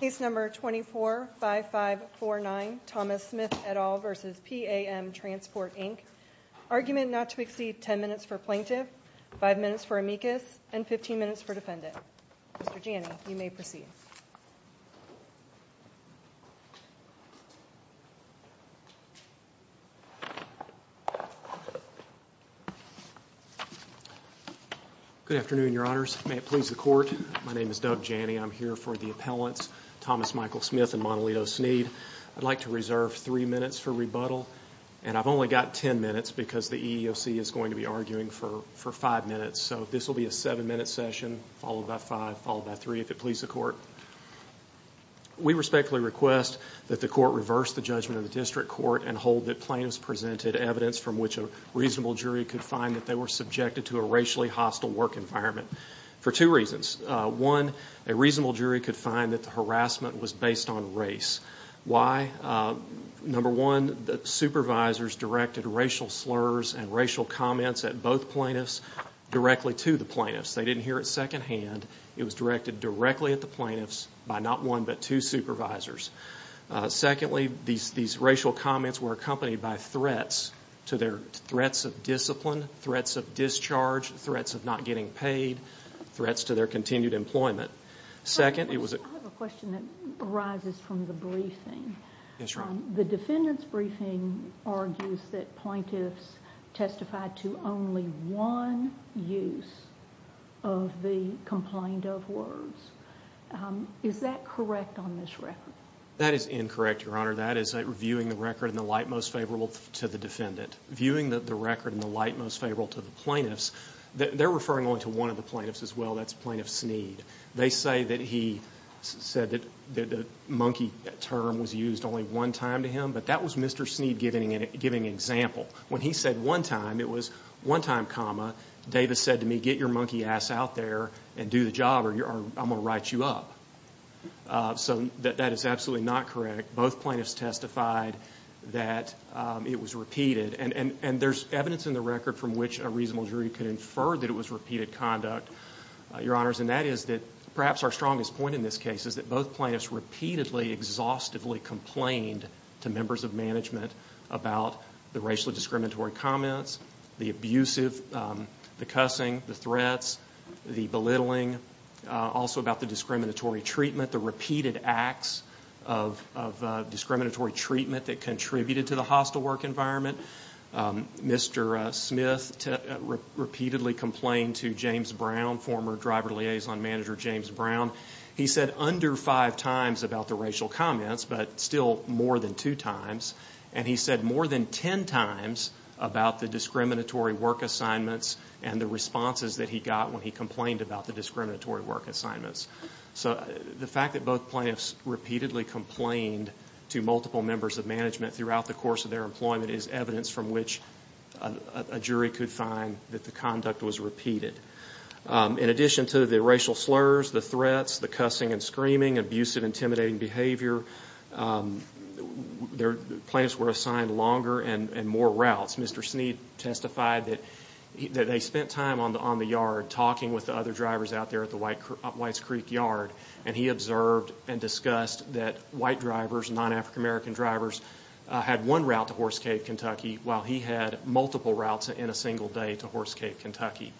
Case number 245549 Thomas Smith et al. v. PAM Transport Inc. Argument not to exceed 10 minutes for plaintiff, 5 minutes for amicus, and 15 minutes for defendant. Mr. Janney, you may proceed. Good afternoon, your honors. May it please the court. My name is Doug Janney. I'm here for the appellants, Thomas Michael Smith and Montalito Sneed. I'd like to reserve three minutes for rebuttal, and I've only got 10 minutes because the EEOC is going to be arguing for five minutes, so this will be a seven-minute session followed by five, followed by three, if it pleases the court. We respectfully request that the court reverse the judgment of the district court and hold that plaintiffs presented evidence from which a reasonable jury could find that they were subjected to a racially hostile work environment for two reasons. One, a reasonable jury could find that the harassment was based on race. Why? Number one, the supervisors directed racial slurs and racial comments at both plaintiffs directly to the plaintiffs. They didn't hear it secondhand. It was directed directly at the plaintiffs by not one but two supervisors. Secondly, these racial comments were accompanied by threats to their threats of discipline, threats of discharge, threats of not getting paid, threats to their continued employment. I have a question that arises from the briefing. The defendant's briefing argues that plaintiffs testified to only one use of the complaint of words. Is that correct on this record? That is incorrect, Your Honor. That is viewing the record in the light most favorable to the defendant. Viewing the record in the light most favorable to the plaintiffs, they're referring only to one of the plaintiffs as well. That's Plaintiff Sneed. They say that he said that the monkey term was used only one time to him, but that was Mr. Sneed giving an example. When he said one time, it was one time, comma, Davis said to me, get your monkey ass out there and do the job or I'm going to write you up. So that is absolutely not correct. Both plaintiffs testified that it was repeated, and there's evidence in the record from which a reasonable jury could infer that it was repeated conduct, Your Honors, and that is that perhaps our strongest point in this case is that both plaintiffs repeatedly, exhaustively complained to members of management about the racially discriminatory comments, the abusive, the cussing, the threats, the belittling, also about the discriminatory treatment, the repeated acts of discriminatory treatment that contributed to the hostile work environment. Mr. Smith repeatedly complained to James Brown, former Driver Liaison Manager James Brown. He said under five times about the racial comments, but still more than two times, and he said more than ten times about the discriminatory work assignments and the responses that he got when he complained about the discriminatory work assignments. So the fact that both plaintiffs repeatedly complained to multiple members of management throughout the course of their employment is evidence from which a jury could find that the conduct was repeated. In addition to the racial slurs, the threats, the cussing and screaming, abusive, intimidating behavior, plaintiffs were assigned longer and more routes. Mr. Sneed testified that they spent time on the yard talking with the other drivers out there at the Whites Creek Yard, and he observed and discussed that white drivers, non-African American drivers, had one route to Horse Cave, Kentucky, while he had multiple routes in a single day to Horse Cave, Kentucky.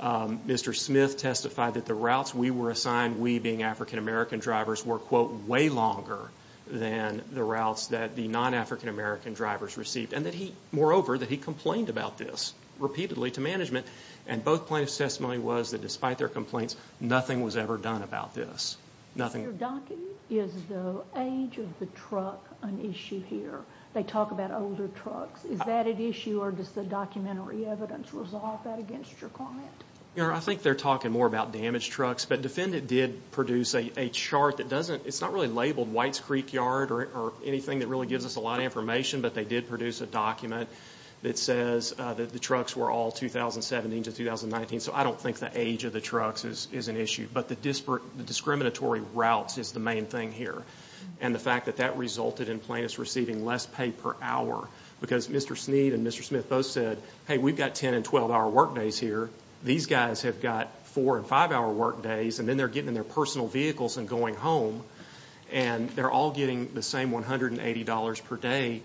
Mr. Smith testified that the routes we were assigned, we being African American drivers, were, quote, way longer than the routes that the non-African American drivers received, and that he, moreover, that he complained about this repeatedly to management. And both plaintiffs' testimony was that despite their complaints, nothing was ever done about this. Is the age of the truck an issue here? They talk about older trucks. Is that an issue, or does the documentary evidence resolve that against your comment? I think they're talking more about damaged trucks, but Defendant did produce a chart that doesn't, it's not really labeled Whites Creek Yard or anything that really gives us a lot of information, but they did produce a document that says that the trucks were all 2017 to 2019, so I don't think the age of the trucks is an issue. But the discriminatory routes is the main thing here, and the fact that that resulted in plaintiffs receiving less pay per hour, because Mr. Sneed and Mr. Smith both said, hey, we've got 10- and 12-hour workdays here. These guys have got four- and five-hour workdays, and then they're getting in their personal vehicles and going home, and they're all getting the same $180 per day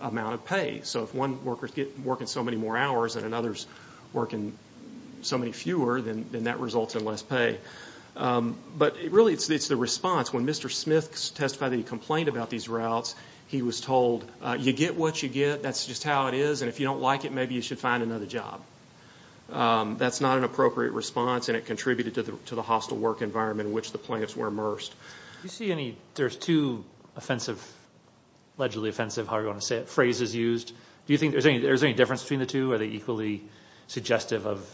amount of pay. So if one worker's working so many more hours and another's working so many fewer, then that results in less pay. But really it's the response. When Mr. Smith testified that he complained about these routes, he was told, you get what you get. That's just how it is, and if you don't like it, maybe you should find another job. That's not an appropriate response, and it contributed to the hostile work environment in which the plaintiffs were immersed. There's two allegedly offensive, however you want to say it, phrases used. Do you think there's any difference between the two? Are they equally suggestive of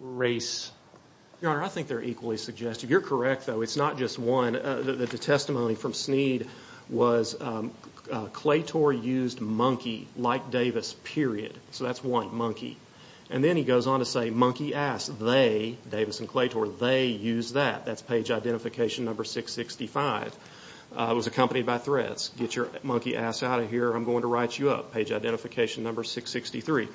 race? Your Honor, I think they're equally suggestive. You're correct, though. It's not just one. The testimony from Sneed was, Claytor used Monkey like Davis, period. So that's one, Monkey. And then he goes on to say, Monkey ass, they, Davis and Claytor, they used that. That's page identification number 665. It was accompanied by threats. Get your monkey ass out of here or I'm going to write you up, page identification number 663.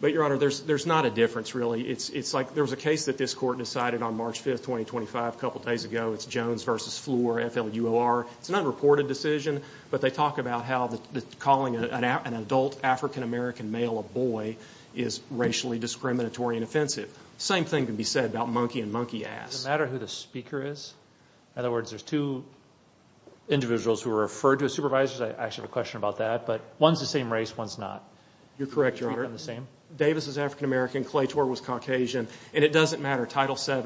But, Your Honor, there's not a difference, really. It's like there was a case that this Court decided on March 5, 2025, a couple days ago. It's Jones v. Fleur, F-L-U-O-R. It's an unreported decision, but they talk about how calling an adult African-American male a boy is racially discriminatory and offensive. The same thing can be said about Monkey and Monkey ass. Does it matter who the speaker is? In other words, there's two individuals who are referred to as supervisors. I actually have a question about that. But one's the same race, one's not. You're correct, Your Honor. Davis is African-American, Claytor was Caucasian, and it doesn't matter. Title VII,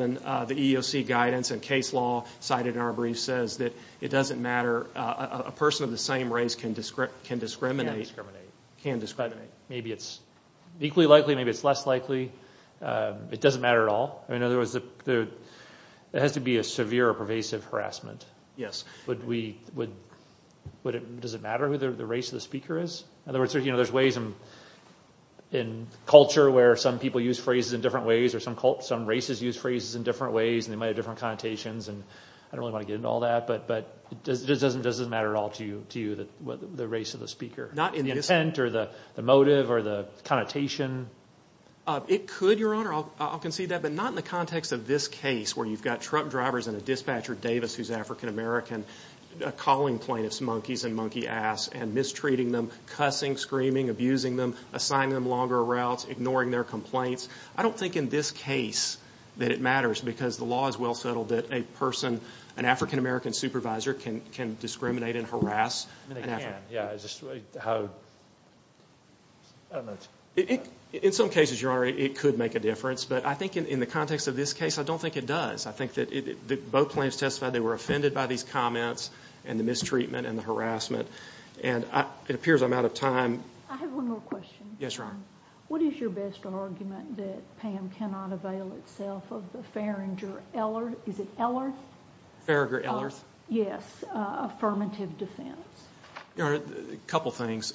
the EEOC guidance and case law cited in our brief says that it doesn't matter. A person of the same race can discriminate. Maybe it's equally likely, maybe it's less likely. It doesn't matter at all. In other words, there has to be a severe or pervasive harassment. Yes. Does it matter who the race of the speaker is? In other words, there's ways in culture where some people use phrases in different ways or some races use phrases in different ways and they might have different connotations, and I don't really want to get into all that, but does it matter at all to you the race of the speaker? Not in this case. The intent or the motive or the connotation? It could, Your Honor. I'll concede that. But not in the context of this case where you've got truck drivers and a dispatcher, Davis, who's African-American, calling plaintiffs monkeys and monkey ass and mistreating them, cussing, screaming, abusing them, assigning them longer routes, ignoring their complaints. I don't think in this case that it matters because the law is well settled that a person, an African-American supervisor, can discriminate and harass an African-American. Yeah. In some cases, Your Honor, it could make a difference, but I think in the context of this case, I don't think it does. I think that both plaintiffs testified they were offended by these comments and the mistreatment and the harassment, and it appears I'm out of time. I have one more question. What is your best argument that PAM cannot avail itself of the Faringer-Ellert? Is it Ellert? Faringer-Ellert. Yes. Affirmative defense. Your Honor, a couple things.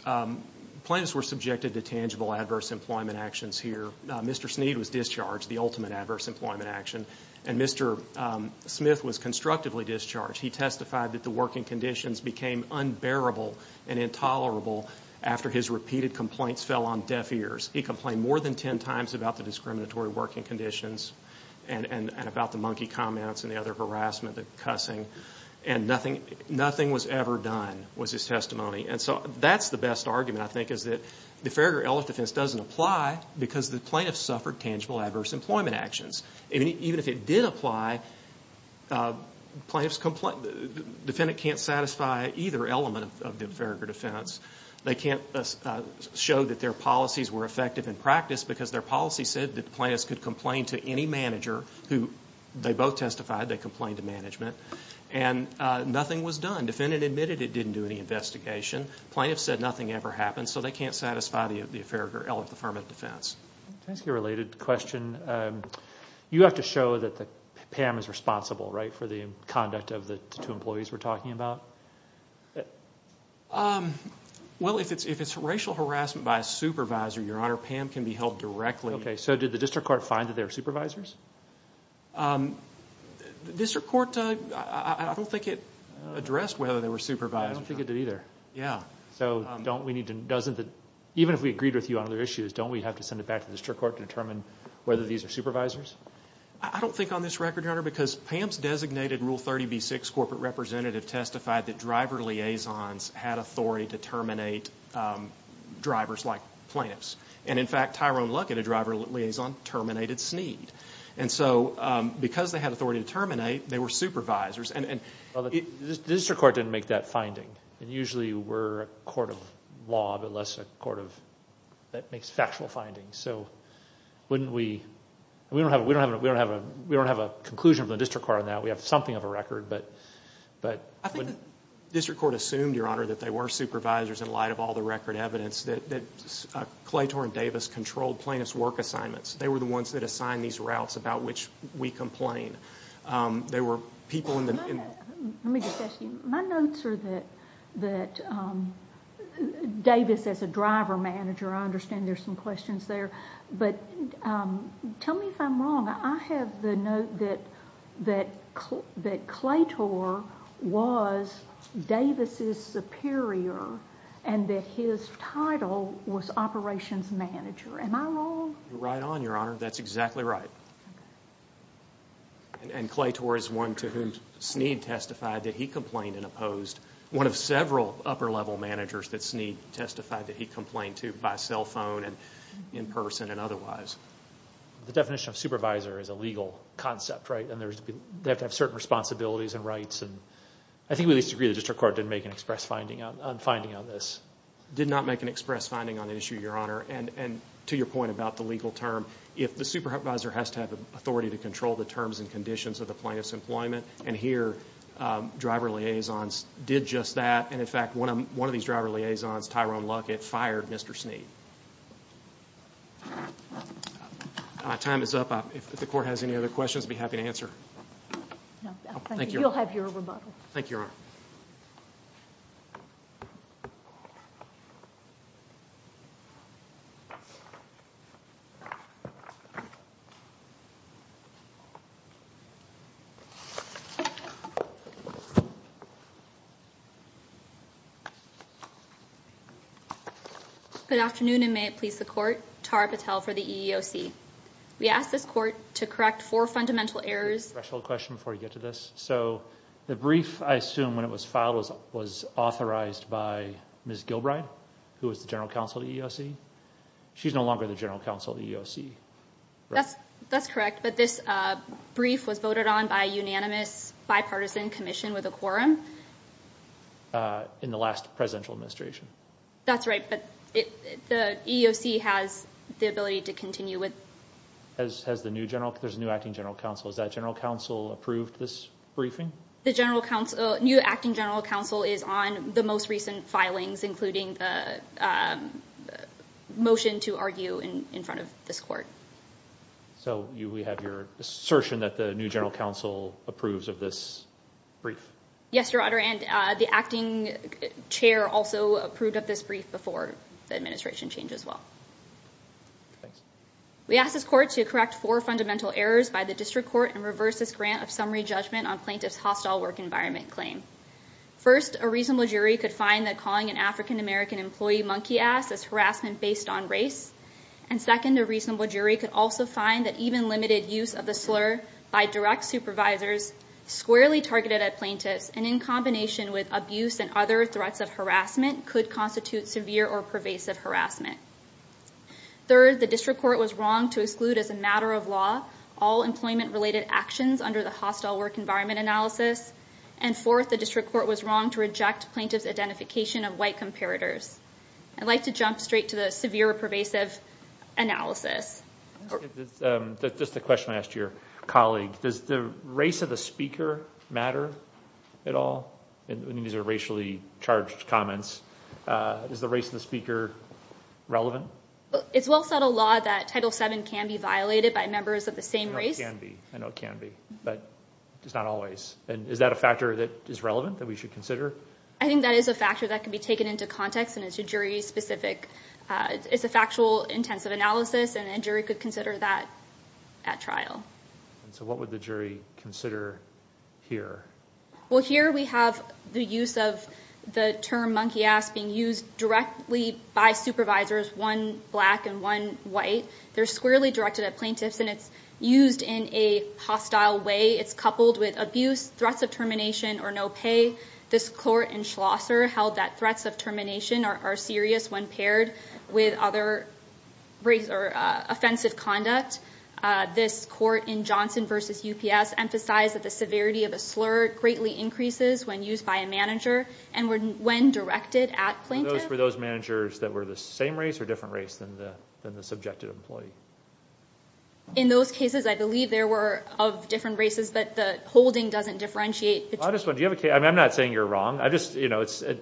Plaintiffs were subjected to tangible adverse employment actions here. Mr. Sneed was discharged, the ultimate adverse employment action, and Mr. Smith was constructively discharged. He testified that the working conditions became unbearable and intolerable after his repeated complaints fell on deaf ears. He complained more than ten times about the discriminatory working conditions and about the monkey comments and the other harassment, the cussing, and nothing was ever done was his testimony. And so that's the best argument, I think, is that the Faringer-Ellert defense doesn't apply because the plaintiffs suffered tangible adverse employment actions. Even if it did apply, the defendant can't satisfy either element of the Faringer defense. They can't show that their policies were effective in practice because their policy said that the plaintiffs could complain to any manager who they both testified, they complained to management, and nothing was done. The defendant admitted it didn't do any investigation. The plaintiffs said nothing ever happened, so they can't satisfy the Faringer-Ellert affirmative defense. Can I ask you a related question? You have to show that Pam is responsible, right, for the conduct of the two employees we're talking about? Well, if it's racial harassment by a supervisor, Your Honor, Pam can be held directly. Okay, so did the district court find that they were supervisors? The district court, I don't think it addressed whether they were supervisors. I don't think it did either. Even if we agreed with you on other issues, don't we have to send it back to the district court to determine whether these are supervisors? I don't think on this record, Your Honor, because Pam's designated Rule 30b-6 corporate representative testified that driver liaisons had authority to terminate drivers like plaintiffs. In fact, Tyrone Luckett, a driver liaison, terminated Snead. Because they had authority to terminate, they were supervisors. The district court didn't make that finding. Usually, we're a court of law, but less a court that makes factual findings. We don't have a conclusion from the district court on that. We have something of a record. I think the district court assumed, Your Honor, that they were supervisors in light of all the record evidence that Claytor and Davis controlled plaintiff's work assignments. They were the ones that assigned these routes about which we complain. They were people in the— Let me just ask you, my notes are that Davis, as a driver manager, I understand there's some questions there, but tell me if I'm wrong. I have the note that Claytor was Davis's superior and that his title was operations manager. Am I wrong? You're right on, Your Honor. That's exactly right. Claytor is one to whom Snead testified that he complained and opposed. One of several upper-level managers that Snead testified that he complained to by cell phone and in person and otherwise. The definition of supervisor is a legal concept, right? They have to have certain responsibilities and rights. I think we at least agree the district court didn't make an express finding on this. Did not make an express finding on the issue, Your Honor. To your point about the legal term, if the supervisor has to have authority to control the terms and conditions of the plaintiff's employment, and here driver liaisons did just that, and in fact one of these driver liaisons, Tyrone Luckett, fired Mr. Snead. My time is up. If the court has any other questions, I'd be happy to answer. No, thank you. You'll have your rebuttal. Thank you, Your Honor. Good afternoon, and may it please the court. Tara Patel for the EEOC. We ask this court to correct four fundamental errors. I have a special question before we get to this. So the brief, I assume, when it was filed was authorized by Ms. Gilbride, who was the general counsel of the EEOC. She's no longer the general counsel of the EEOC. That's correct, but this brief was voted on by a unanimous bipartisan commission with a quorum. In the last presidential administration. That's right, but the EEOC has the ability to continue with it. There's a new acting general counsel. Is that general counsel approved this briefing? The new acting general counsel is on the most recent filings, including the motion to argue in front of this court. So we have your assertion that the new general counsel approves of this brief? Yes, Your Honor, and the acting chair also approved of this brief before the administration changed as well. Thanks. We ask this court to correct four fundamental errors by the district court and reverse this grant of summary judgment on plaintiff's hostile work environment claim. First, a reasonable jury could find that calling an African American employee monkey ass is harassment based on race. And second, a reasonable jury could also find that even limited use of the slur by direct supervisors, squarely targeted at plaintiffs, and in combination with abuse and other threats of harassment could constitute severe or pervasive harassment. Third, the district court was wrong to exclude as a matter of law, all employment related actions under the hostile work environment analysis. And fourth, the district court was wrong to reject plaintiff's identification of white comparators. I'd like to jump straight to the severe or pervasive analysis. Just a question I asked your colleague. Does the race of the speaker matter at all? I mean, these are racially charged comments. Is the race of the speaker relevant? It's well set a law that Title VII can be violated by members of the same race. I know it can be, I know it can be, but it's not always. And is that a factor that is relevant that we should consider? I think that is a factor that can be taken into context and into jury specific. It's a factual intensive analysis and a jury could consider that at trial. So what would the jury consider here? Well, here we have the use of the term monkey ass being used directly by supervisors, one black and one white. They're squarely directed at plaintiffs and it's used in a hostile way. It's coupled with abuse, threats of termination, or no pay. This court in Schlosser held that threats of termination are serious when paired with other offensive conduct. This court in Johnson v. UPS emphasized that the severity of a slur greatly increases when used by a manager and when directed at plaintiffs. Were those managers that were the same race or different race than the subjective employee? In those cases, I believe there were of different races, but the holding doesn't differentiate. I'm not saying you're wrong. It's a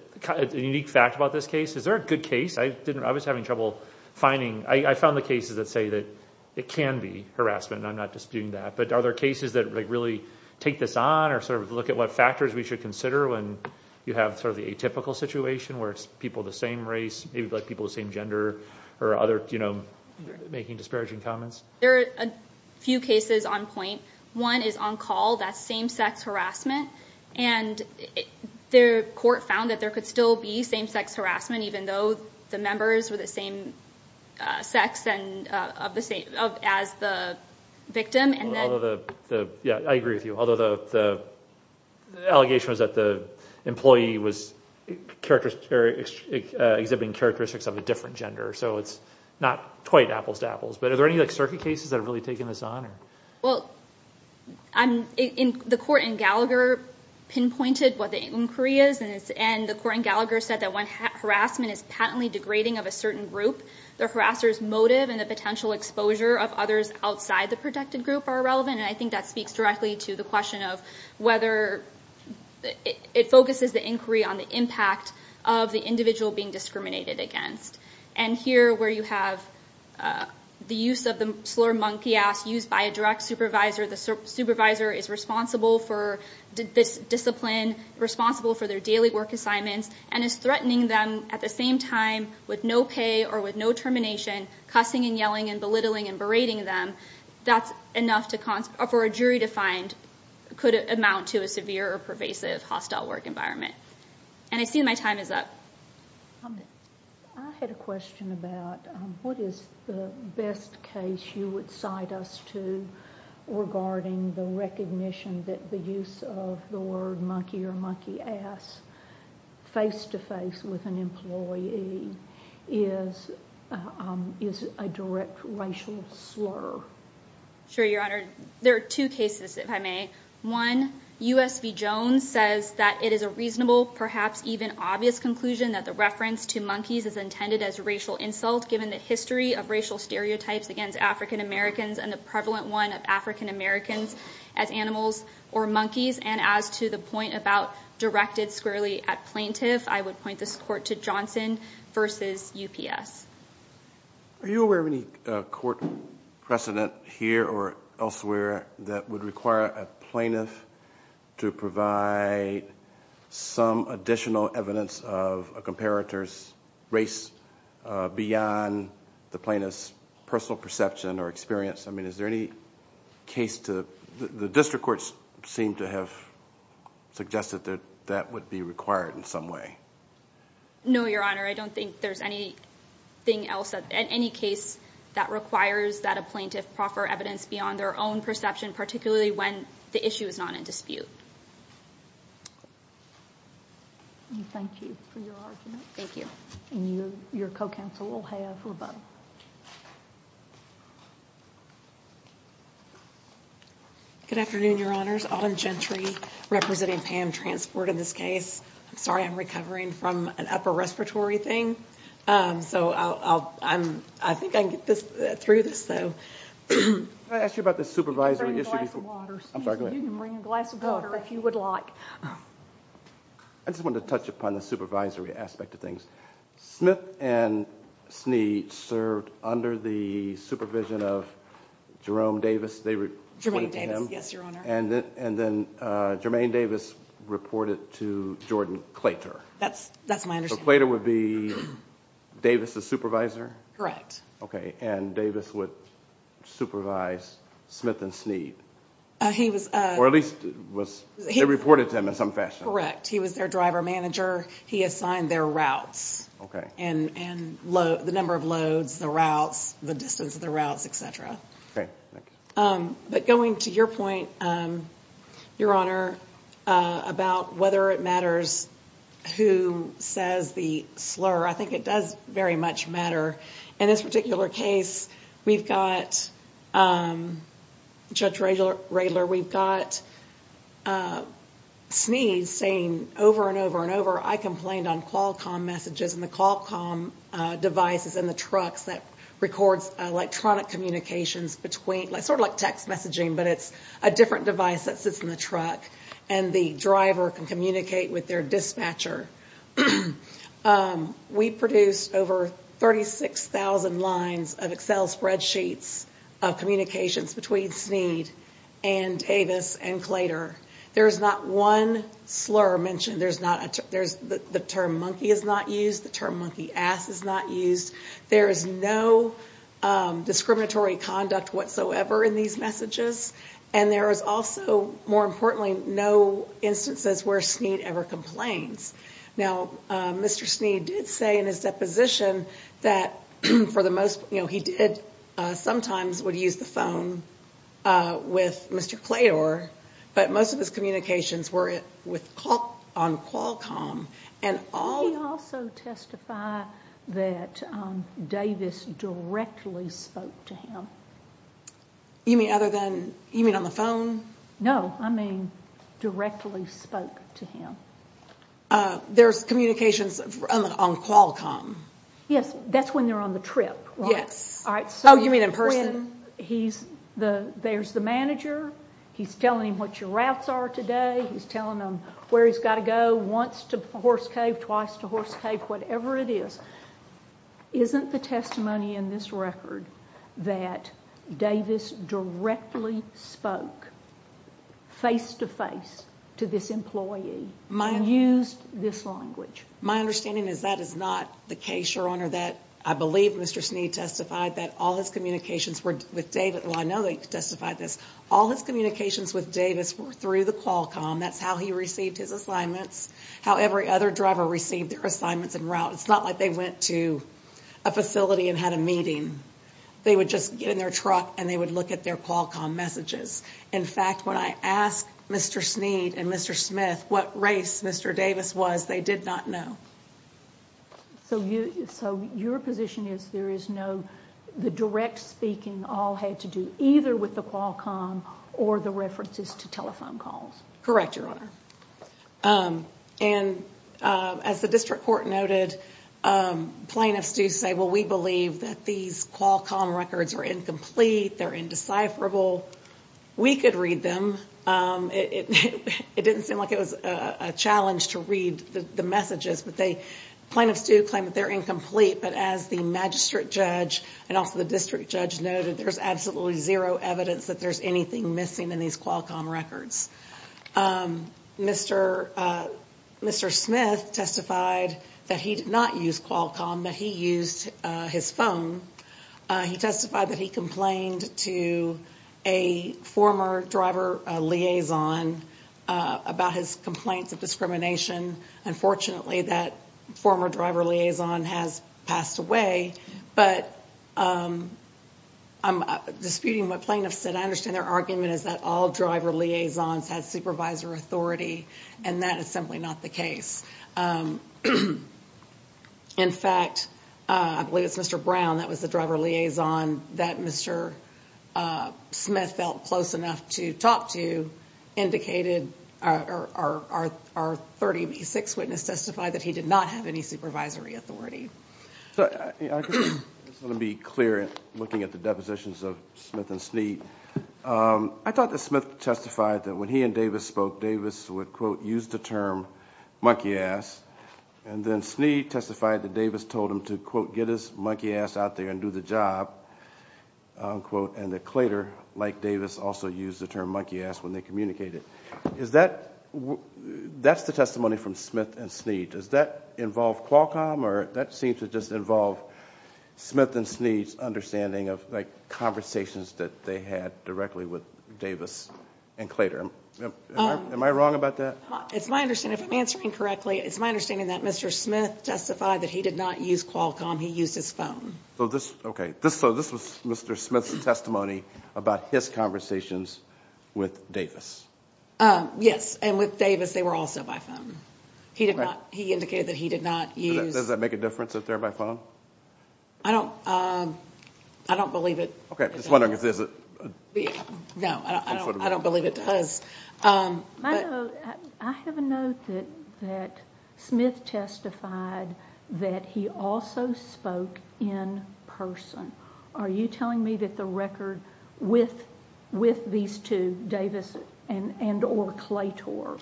unique fact about this case. Is there a good case? I was having trouble finding. I found the cases that say that it can be harassment and I'm not disputing that. But are there cases that really take this on or look at what factors we should consider when you have the atypical situation where it's people of the same race, maybe people of the same gender, or making disparaging comments? There are a few cases on point. One is on call. That's same-sex harassment. The court found that there could still be same-sex harassment even though the members were the same sex as the victim. I agree with you. Although the allegation was that the employee was exhibiting characteristics of a different gender, so it's not quite apples to apples. But are there any circuit cases that have really taken this on? The court in Gallagher pinpointed what the inquiry is, and the court in Gallagher said that when harassment is patently degrading of a certain group, the harasser's motive and the potential exposure of others outside the protected group are relevant, and I think that speaks directly to the question of whether it focuses the inquiry on the impact of the individual being discriminated against. And here where you have the use of the slur, monkey ass, used by a direct supervisor, the supervisor is responsible for this discipline, responsible for their daily work assignments, and is threatening them at the same time with no pay or with no termination, cussing and yelling and belittling and berating them. That's enough for a jury to find could amount to a severe or pervasive hostile work environment. And I see my time is up. I had a question about what is the best case you would cite us to regarding the recognition that the use of the word monkey or monkey ass face-to-face with an employee is a direct racial slur? Sure, Your Honor. There are two cases, if I may. One, U.S. v. Jones says that it is a reasonable, perhaps even obvious, conclusion that the reference to monkeys is intended as racial insult given the history of racial stereotypes against African-Americans and the prevalent one of African-Americans as animals or monkeys. And as to the point about directed squarely at plaintiff, I would point this court to Johnson v. UPS. Are you aware of any court precedent here or elsewhere that would require a plaintiff to provide some additional evidence of a comparator's race beyond the plaintiff's personal perception or experience? I mean, is there any case to – the district courts seem to have suggested that that would be required in some way. No, Your Honor. I don't think there's anything else in any case that requires that a plaintiff proffer evidence beyond their own perception, particularly when the issue is not in dispute. Thank you for your argument. Thank you. And your co-counsel will have rebuttal. Good afternoon, Your Honors. Autumn Gentry representing PAM Transport in this case. I'm sorry I'm recovering from an upper respiratory thing, so I think I can get through this. Can I ask you about the supervisory issue? I'm sorry, go ahead. You can bring a glass of water if you would like. I just wanted to touch upon the supervisory aspect of things. Smith and Snead served under the supervision of Jerome Davis. Jermaine Davis, yes, Your Honor. And then Jermaine Davis reported to Jordan Claytor. That's my understanding. So Claytor would be Davis' supervisor? Correct. Okay, and Davis would supervise Smith and Snead, or at least they reported to him in some fashion. He was their driver manager. He assigned their routes and the number of loads, the routes, the distance of the routes, et cetera. Okay, thanks. But going to your point, Your Honor, about whether it matters who says the slur, I think it does very much matter. In this particular case, we've got Judge Radler, we've got Snead saying over and over and over, I complained on Qualcomm messages and the Qualcomm devices in the trucks that records electronic communications between, sort of like text messaging, but it's a different device that sits in the truck, and the driver can communicate with their dispatcher. We produced over 36,000 lines of Excel spreadsheets of communications between Snead and Davis and Claytor. There is not one slur mentioned. The term monkey is not used. The term monkey ass is not used. There is no discriminatory conduct whatsoever in these messages, and there is also, more importantly, no instances where Snead ever complains. Now, Mr. Snead did say in his deposition that he sometimes would use the phone with Mr. Claytor, but most of his communications were on Qualcomm. Did he also testify that Davis directly spoke to him? You mean on the phone? No, I mean directly spoke to him. There's communications on Qualcomm. Yes, that's when they're on the trip, right? Oh, you mean in person? There's the manager. He's telling him what your routes are today. He's telling him where he's got to go, once to Horse Cave, twice to Horse Cave, whatever it is. Isn't the testimony in this record that Davis directly spoke face-to-face to this employee and used this language? My understanding is that is not the case, Your Honor. I believe Mr. Snead testified that all his communications were with Davis. Well, I know that he testified this. All his communications with Davis were through the Qualcomm. That's how he received his assignments, how every other driver received their assignments and routes. It's not like they went to a facility and had a meeting. They would just get in their truck and they would look at their Qualcomm messages. In fact, when I asked Mr. Snead and Mr. Smith what race Mr. Davis was, they did not know. So your position is there is no, the direct speaking all had to do either with the Qualcomm or the references to telephone calls? Correct, Your Honor. And as the district court noted, plaintiffs do say, well, we believe that these Qualcomm records are incomplete. They're indecipherable. We could read them. It didn't seem like it was a challenge to read the messages, but they, plaintiffs do claim that they're incomplete. But as the magistrate judge and also the district judge noted, there's absolutely zero evidence that there's anything missing in these Qualcomm records. Mr. Smith testified that he did not use Qualcomm, that he used his phone. He testified that he complained to a former driver liaison about his complaints of discrimination. Unfortunately, that former driver liaison has passed away. But I'm disputing what plaintiffs said. I understand their argument is that all driver liaisons had supervisor authority, and that is simply not the case. In fact, I believe it's Mr. Brown that was the driver liaison that Mr. Smith felt close enough to talk to, our 30B6 witness testified that he did not have any supervisory authority. I just want to be clear in looking at the depositions of Smith and Sneed. I thought that Smith testified that when he and Davis spoke, Davis would, quote, use the term monkey ass, and then Sneed testified that Davis told him to, quote, get his monkey ass out there and do the job, unquote, and that Claytor, like Davis, also used the term monkey ass when they communicated. Is that, that's the testimony from Smith and Sneed. Does that involve Qualcomm, or that seems to just involve Smith and Sneed's understanding of, like, conversations that they had directly with Davis and Claytor. Am I wrong about that? It's my understanding, if I'm answering correctly, it's my understanding that Mr. Smith testified that he did not use Qualcomm. He used his phone. So this, okay, so this was Mr. Smith's testimony about his conversations with Davis. Yes, and with Davis they were also by phone. He did not, he indicated that he did not use. Does that make a difference if they're by phone? I don't, I don't believe it. Okay, I'm just wondering, is it? No, I don't believe it does. I have a note that Smith testified that he also spoke in person. Are you telling me that the record with these two, Davis and or Claytor,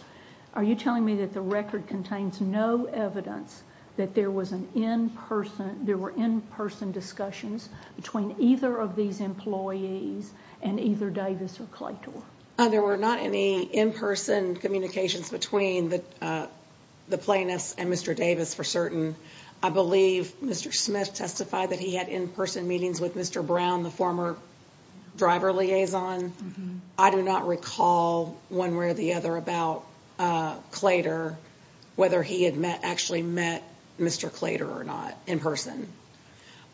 are you telling me that the record contains no evidence that there was an in-person, there were in-person discussions between either of these employees and either Davis or Claytor? There were not any in-person communications between the plaintiffs and Mr. Davis for certain. I believe Mr. Smith testified that he had in-person meetings with Mr. Brown, the former driver liaison. I do not recall one way or the other about Claytor, whether he had met, actually met Mr. Claytor or not in person.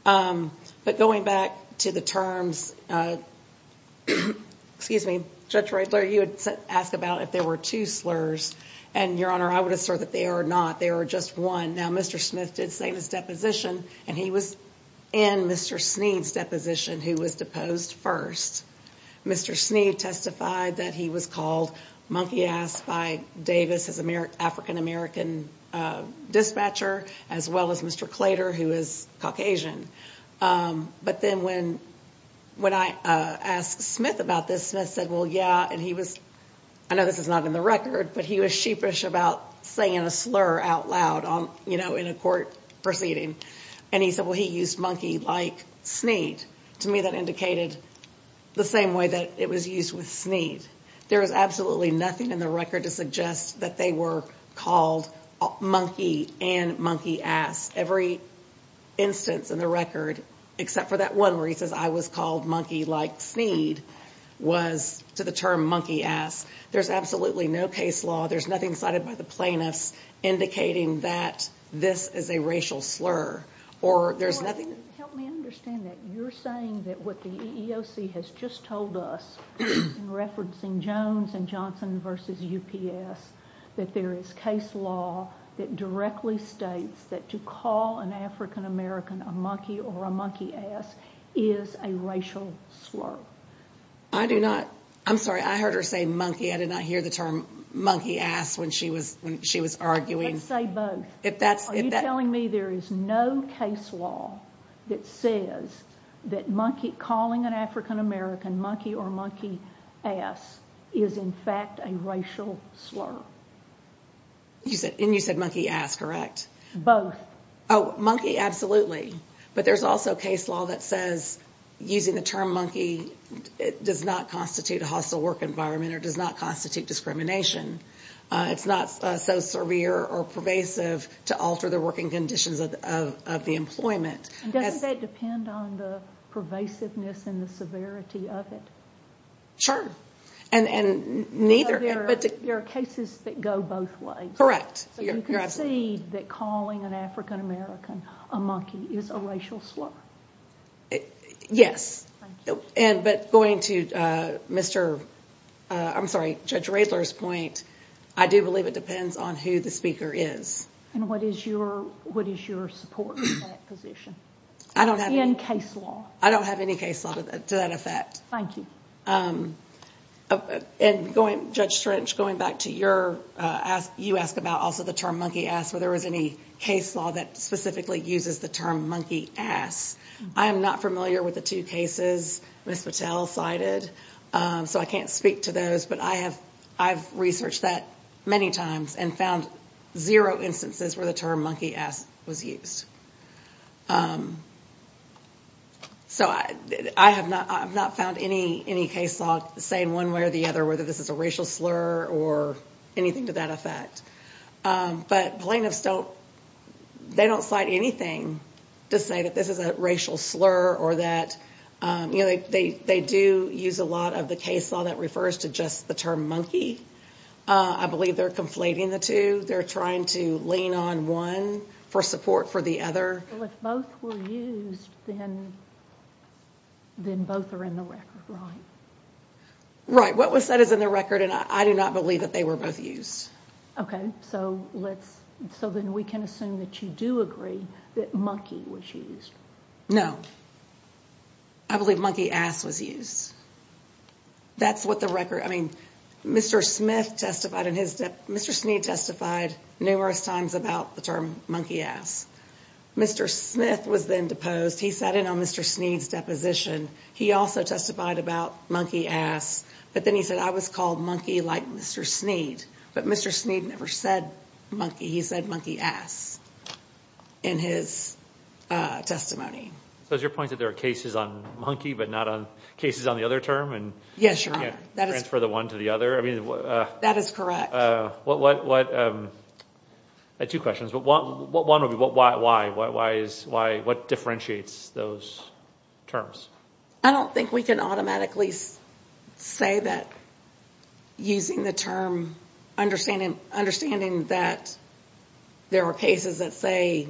But going back to the terms, excuse me, Judge Reitler, you had asked about if there were two slurs. And, Your Honor, I would assert that there are not. There are just one. Now, Mr. Smith did say in his deposition, and he was in Mr. Sneed's deposition, who was deposed first. Mr. Sneed testified that he was called monkey-ass by Davis, his African-American dispatcher, as well as Mr. Claytor, who is Caucasian. But then when I asked Smith about this, Smith said, well, yeah, and he was, I know this is not in the record, but he was sheepish about saying a slur out loud in a court proceeding. And he said, well, he used monkey like Sneed. To me, that indicated the same way that it was used with Sneed. There is absolutely nothing in the record to suggest that they were called monkey and monkey-ass. Every instance in the record, except for that one where he says I was called monkey like Sneed, was to the term monkey-ass. There's absolutely no case law. There's nothing cited by the plaintiffs indicating that this is a racial slur. Help me understand that. You're saying that what the EEOC has just told us, referencing Jones and Johnson versus UPS, that there is case law that directly states that to call an African-American a monkey or a monkey-ass is a racial slur. I do not. I'm sorry, I heard her say monkey. I did not hear the term monkey-ass when she was arguing. Let's say both. Are you telling me there is no case law that says that calling an African-American monkey or monkey-ass is, in fact, a racial slur? And you said monkey-ass, correct? Both. Oh, monkey, absolutely. But there's also case law that says, using the term monkey, it does not constitute a hostile work environment or does not constitute discrimination. It's not so severe or pervasive to alter the working conditions of the employment. Doesn't that depend on the pervasiveness and the severity of it? Sure. There are cases that go both ways. Correct. So you concede that calling an African-American a monkey is a racial slur? Yes. But going to Judge Radler's point, I do believe it depends on who the speaker is. And what is your support in that position? I don't have any. In case law. I don't have any case law to that effect. Thank you. And Judge Strench, going back to your, you asked about also the term monkey-ass, whether there was any case law that specifically uses the term monkey-ass. I am not familiar with the two cases Ms. Patel cited, so I can't speak to those. But I have researched that many times and found zero instances where the term monkey-ass was used. So I have not found any case law saying one way or the other whether this is a racial slur or anything to that effect. But plaintiffs don't, they don't cite anything to say that this is a racial slur or that, you know, they do use a lot of the case law that refers to just the term monkey. I believe they're conflating the two. They're trying to lean on one for support for the other. So if both were used, then both are in the record, right? Right. What was said is in the record, and I do not believe that they were both used. Okay, so let's, so then we can assume that you do agree that monkey was used. No. I believe monkey-ass was used. That's what the record, I mean, Mr. Smith testified in his, Mr. Sneed testified numerous times about the term monkey-ass. Mr. Smith was then deposed. He sat in on Mr. Sneed's deposition. He also testified about monkey-ass. But then he said, I was called monkey like Mr. Sneed. But Mr. Sneed never said monkey. He said monkey-ass in his testimony. So is your point that there are cases on monkey but not on cases on the other term? Yes, Your Honor. And you can't transfer the one to the other? That is correct. What, what, what, I had two questions. But one would be what, why, why, why is, why, what differentiates those terms? I don't think we can automatically say that using the term, understanding, understanding that there are cases that say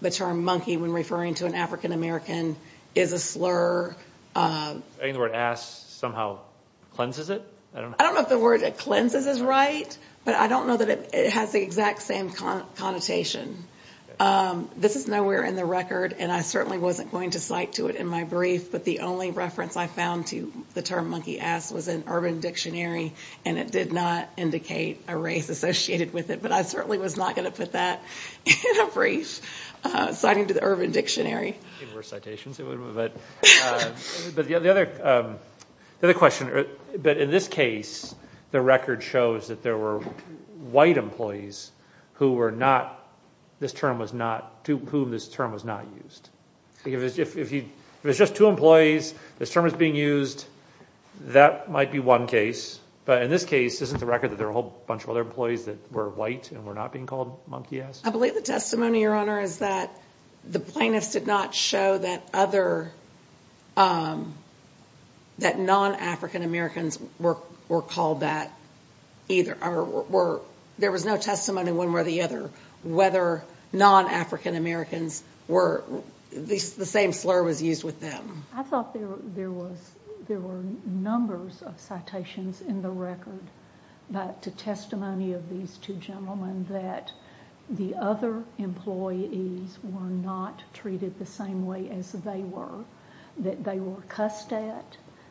the term monkey when referring to an African-American is a slur. And the word ass somehow cleanses it? I don't know if the word cleanses is right, but I don't know that it has the exact same connotation. This is nowhere in the record, and I certainly wasn't going to cite to it in my brief. But the only reference I found to the term monkey-ass was in Urban Dictionary, and it did not indicate a race associated with it. But I certainly was not going to put that in a brief citing to the Urban Dictionary. But the other, the other question, but in this case, the record shows that there were white employees who were not, this term was not, to whom this term was not used. If it was just two employees, this term was being used, that might be one case. But in this case, isn't the record that there were a whole bunch of other employees that were white and were not being called monkey-ass? I believe the testimony, Your Honor, is that the plaintiffs did not show that other, that non-African-Americans were called that either. There was no testimony one way or the other whether non-African-Americans were, the same slur was used with them. I thought there was, there were numbers of citations in the record that, to testimony of these two gentlemen, that the other employees were not treated the same way as they were. That they were cussed at,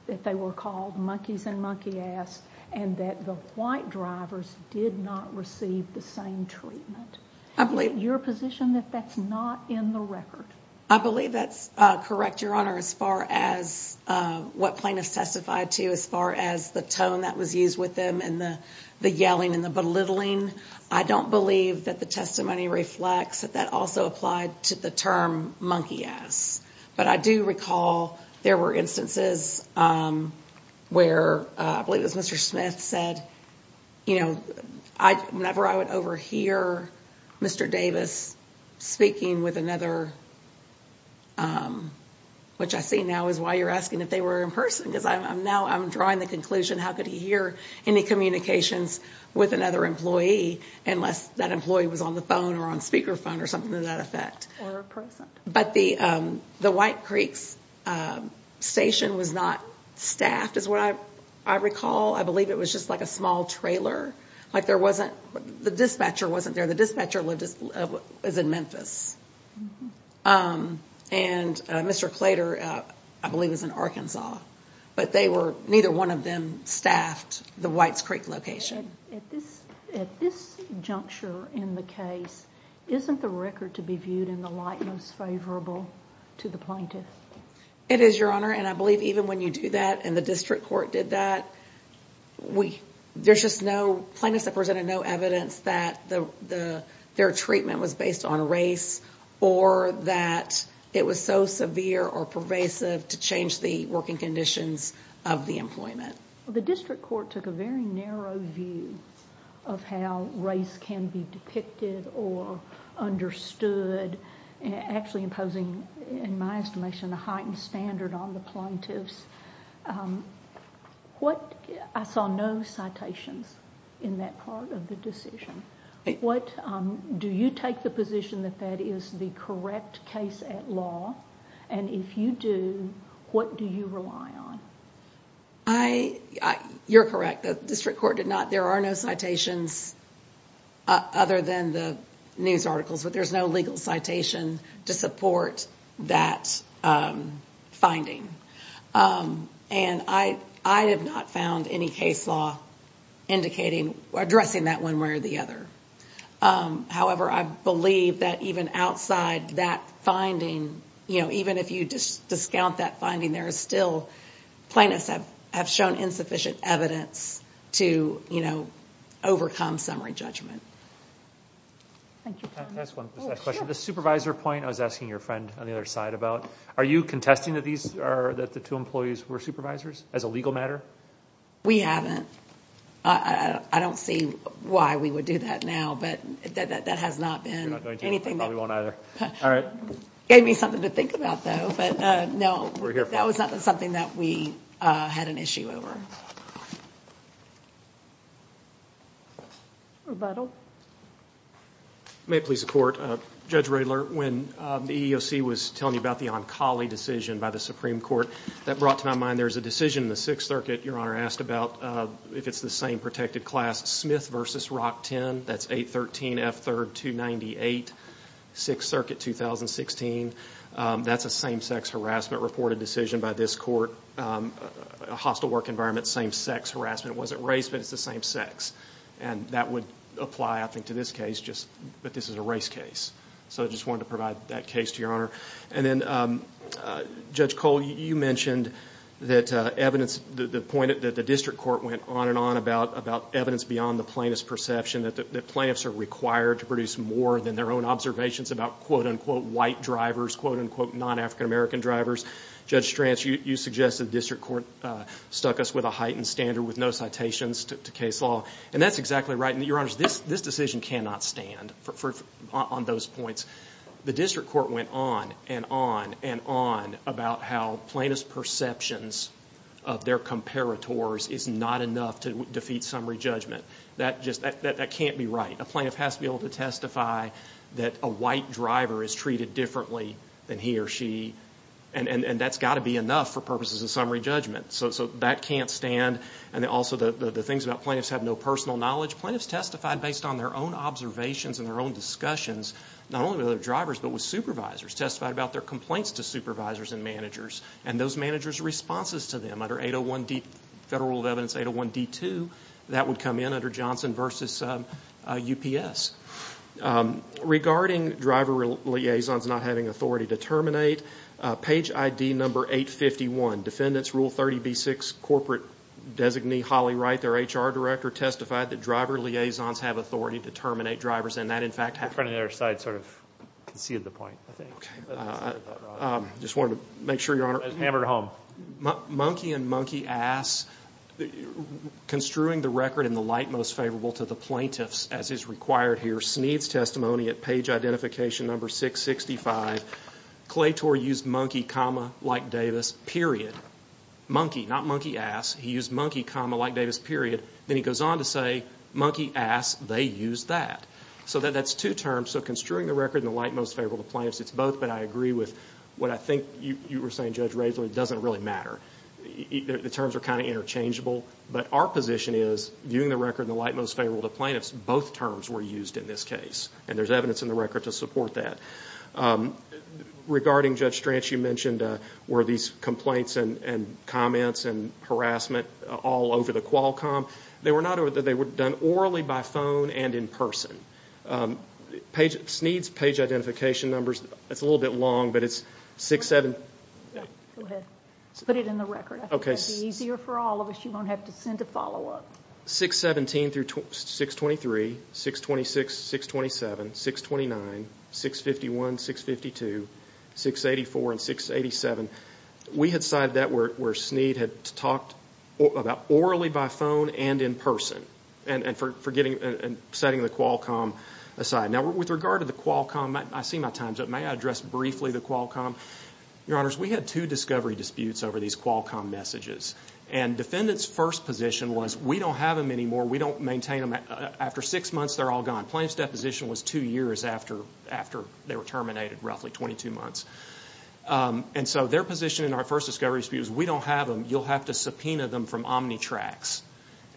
that they were called monkeys and monkey-ass, and that the white drivers did not receive the same treatment. I believe. Your position that that's not in the record? I believe that's correct, Your Honor, as far as what plaintiffs testified to, as far as the tone that was used with them and the yelling and the belittling. I don't believe that the testimony reflects that that also applied to the term monkey-ass. But I do recall there were instances where, I believe it was Mr. Smith said, you know, whenever I would overhear Mr. Davis speaking with another, which I see now is why you're asking if they were in person. Because I'm now, I'm drawing the conclusion how could he hear any communications with another employee unless that employee was on the phone or on speaker phone or something to that effect. Or in person. But the White Creek's station was not staffed is what I recall. I believe it was just like a small trailer. Like there wasn't, the dispatcher wasn't there. The dispatcher lived, was in Memphis. And Mr. Claytor, I believe, was in Arkansas. But they were, neither one of them staffed the White's Creek location. At this juncture in the case, isn't the record to be viewed in the light most favorable to the plaintiff? It is, Your Honor. And I believe even when you do that and the district court did that, there's just no, plaintiffs have presented no evidence that their treatment was based on race or that it was so severe or pervasive to change the working conditions of the employment. The district court took a very narrow view of how race can be depicted or understood, actually imposing, in my estimation, a heightened standard on the plaintiffs. What, I saw no citations in that part of the decision. What, do you take the position that that is the correct case at law? And if you do, what do you rely on? I, you're correct. The district court did not, there are no citations other than the news articles, but there's no legal citation to support that finding. And I have not found any case law indicating, addressing that one way or the other. However, I believe that even outside that finding, you know, even if you discount that finding, there is still, plaintiffs have shown insufficient evidence to, you know, overcome summary judgment. Thank you. Can I ask one question? Sure. The supervisor point I was asking your friend on the other side about, are you contesting that these are, that the two employees were supervisors as a legal matter? We haven't. I don't see why we would do that now, but that has not been anything that. Probably won't either. All right. Gave me something to think about though, but no. We're here for it. That was not something that we had an issue over. Rebuttal. May it please the court. Judge Riedler, when the EEOC was telling you about the Onkali decision by the Supreme Court, that brought to my mind there's a decision in the Sixth Circuit, Your Honor, asked about if it's the same protected class, Smith v. Rock 10, that's 813 F. 3rd 298, Sixth Circuit 2016. That's a same sex harassment reported decision by this court. A hostile work environment, same sex harassment. It wasn't race, but it's the same sex. That would apply, I think, to this case, but this is a race case. I just wanted to provide that case to Your Honor. Then, Judge Cole, you mentioned that the district court went on and on about evidence beyond the plaintiff's perception, that plaintiffs are required to produce more than their own observations about, quote, unquote, white drivers, quote, unquote, non-African American drivers. Judge Stranch, you suggested the district court stuck us with a heightened standard with no citations to case law, and that's exactly right. Your Honor, this decision cannot stand on those points. The district court went on and on and on about how plaintiff's perceptions of their comparators is not enough to defeat summary judgment. That just can't be right. A plaintiff has to be able to testify that a white driver is treated differently than he or she, and that's got to be enough for purposes of summary judgment. That can't stand. Also, the things about plaintiffs have no personal knowledge. Plaintiffs testified based on their own observations and their own discussions, not only with other drivers, but with supervisors, testified about their complaints to supervisors and managers, and those managers' responses to them. Federal Rule of Evidence 801-D2, that would come in under Johnson v. UPS. Regarding driver liaisons not having authority to terminate, page ID number 851, Defendants Rule 30b-6, corporate designee Holly Wright, their HR director, testified that driver liaisons have authority to terminate drivers, and that, in fact, happened. Your friend on the other side sort of conceded the point, I think. I just wanted to make sure, Your Honor. Hammer to home. Monkey and monkey ass, construing the record in the light most favorable to the plaintiffs, as is required here, Sneed's testimony at page ID number 665, Claytor used monkey, comma, like Davis, period. Monkey, not monkey ass. He used monkey, comma, like Davis, period. Then he goes on to say monkey ass, they used that. So that's two terms. So construing the record in the light most favorable to the plaintiffs, it's both, but I agree with what I think you were saying, Judge Raisler, it doesn't really matter. The terms are kind of interchangeable, but our position is, viewing the record in the light most favorable to the plaintiffs, both terms were used in this case, and there's evidence in the record to support that. Regarding Judge Stranch, you mentioned, were these complaints and comments and harassment all over the Qualcomm? They were done orally by phone and in person. Sneed's page identification numbers, it's a little bit long, but it's 617- Go ahead, put it in the record. Okay. It'll be easier for all of us. You won't have to send a follow-up. 617 through 623, 626, 627, 629, 651, 652, 684, and 687. We had cited that where Sneed had talked about orally by phone and in person, and setting the Qualcomm aside. Now, with regard to the Qualcomm, I see my time's up. May I address briefly the Qualcomm? Your Honors, we had two discovery disputes over these Qualcomm messages, and defendant's first position was, we don't have them anymore. We don't maintain them. After six months, they're all gone. Plaintiff's deposition was two years after they were terminated, roughly 22 months. Their position in our first discovery dispute was, we don't have them. You'll have to subpoena them from Omnitrax.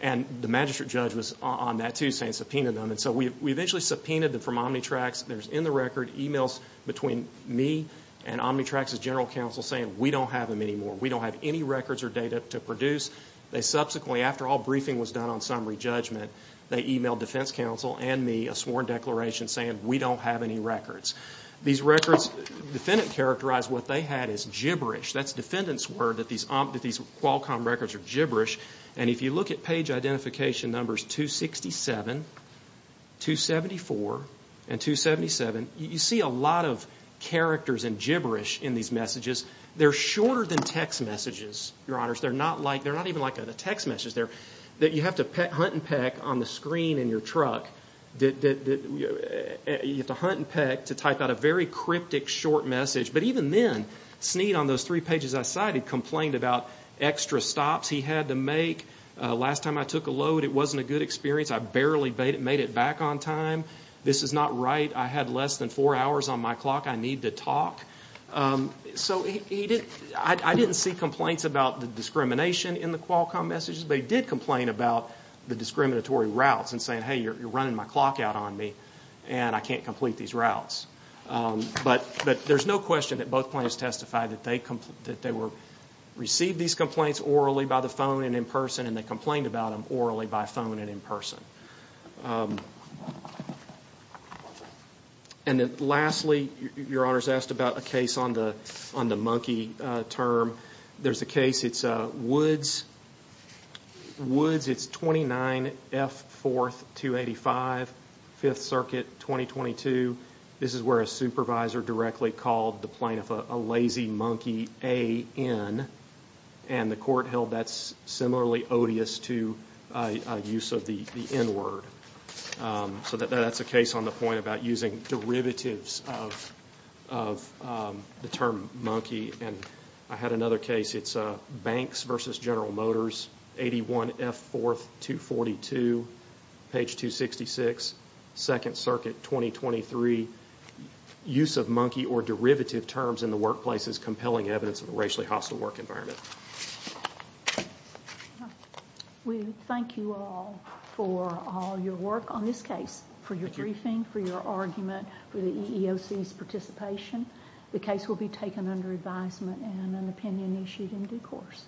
The magistrate judge was on that, too, saying subpoena them. We eventually subpoenaed them from Omnitrax. There's in the record emails between me and Omnitrax's general counsel saying, we don't have them anymore. We don't have any records or data to produce. Subsequently, after all briefing was done on summary judgment, they emailed defense counsel and me a sworn declaration saying, we don't have any records. These records, defendant characterized what they had as gibberish. That's defendant's word, that these Qualcomm records are gibberish. And if you look at page identification numbers 267, 274, and 277, you see a lot of characters and gibberish in these messages. They're shorter than text messages, Your Honors. They're not even like a text message. You have to hunt and peck on the screen in your truck. You have to hunt and peck to type out a very cryptic short message. But even then, Snead on those three pages I cited complained about extra stops he had to make. Last time I took a load, it wasn't a good experience. I barely made it back on time. This is not right. I had less than four hours on my clock. I need to talk. So I didn't see complaints about the discrimination in the Qualcomm messages, but he did complain about the discriminatory routes and saying, hey, you're running my clock out on me, and I can't complete these routes. But there's no question that both plaintiffs testified that they received these complaints orally by the phone and in person, and they complained about them orally by phone and in person. And then lastly, Your Honors asked about a case on the monkey term. There's a case, it's Woods. Woods, it's 29F4285, Fifth Circuit, 2022. This is where a supervisor directly called the plaintiff a lazy monkey, A-N, and the court held that's similarly odious to a use of the N word. So that's a case on the point about using derivatives of the term monkey, and I had another case, it's Banks v. General Motors, 81F4242, page 266, Second Circuit, 2023. Use of monkey or derivative terms in the workplace is compelling evidence of a racially hostile work environment. We thank you all for all your work on this case, for your briefing, for your argument, for the EEOC's participation. The case will be taken under advisement and an opinion issued in due course.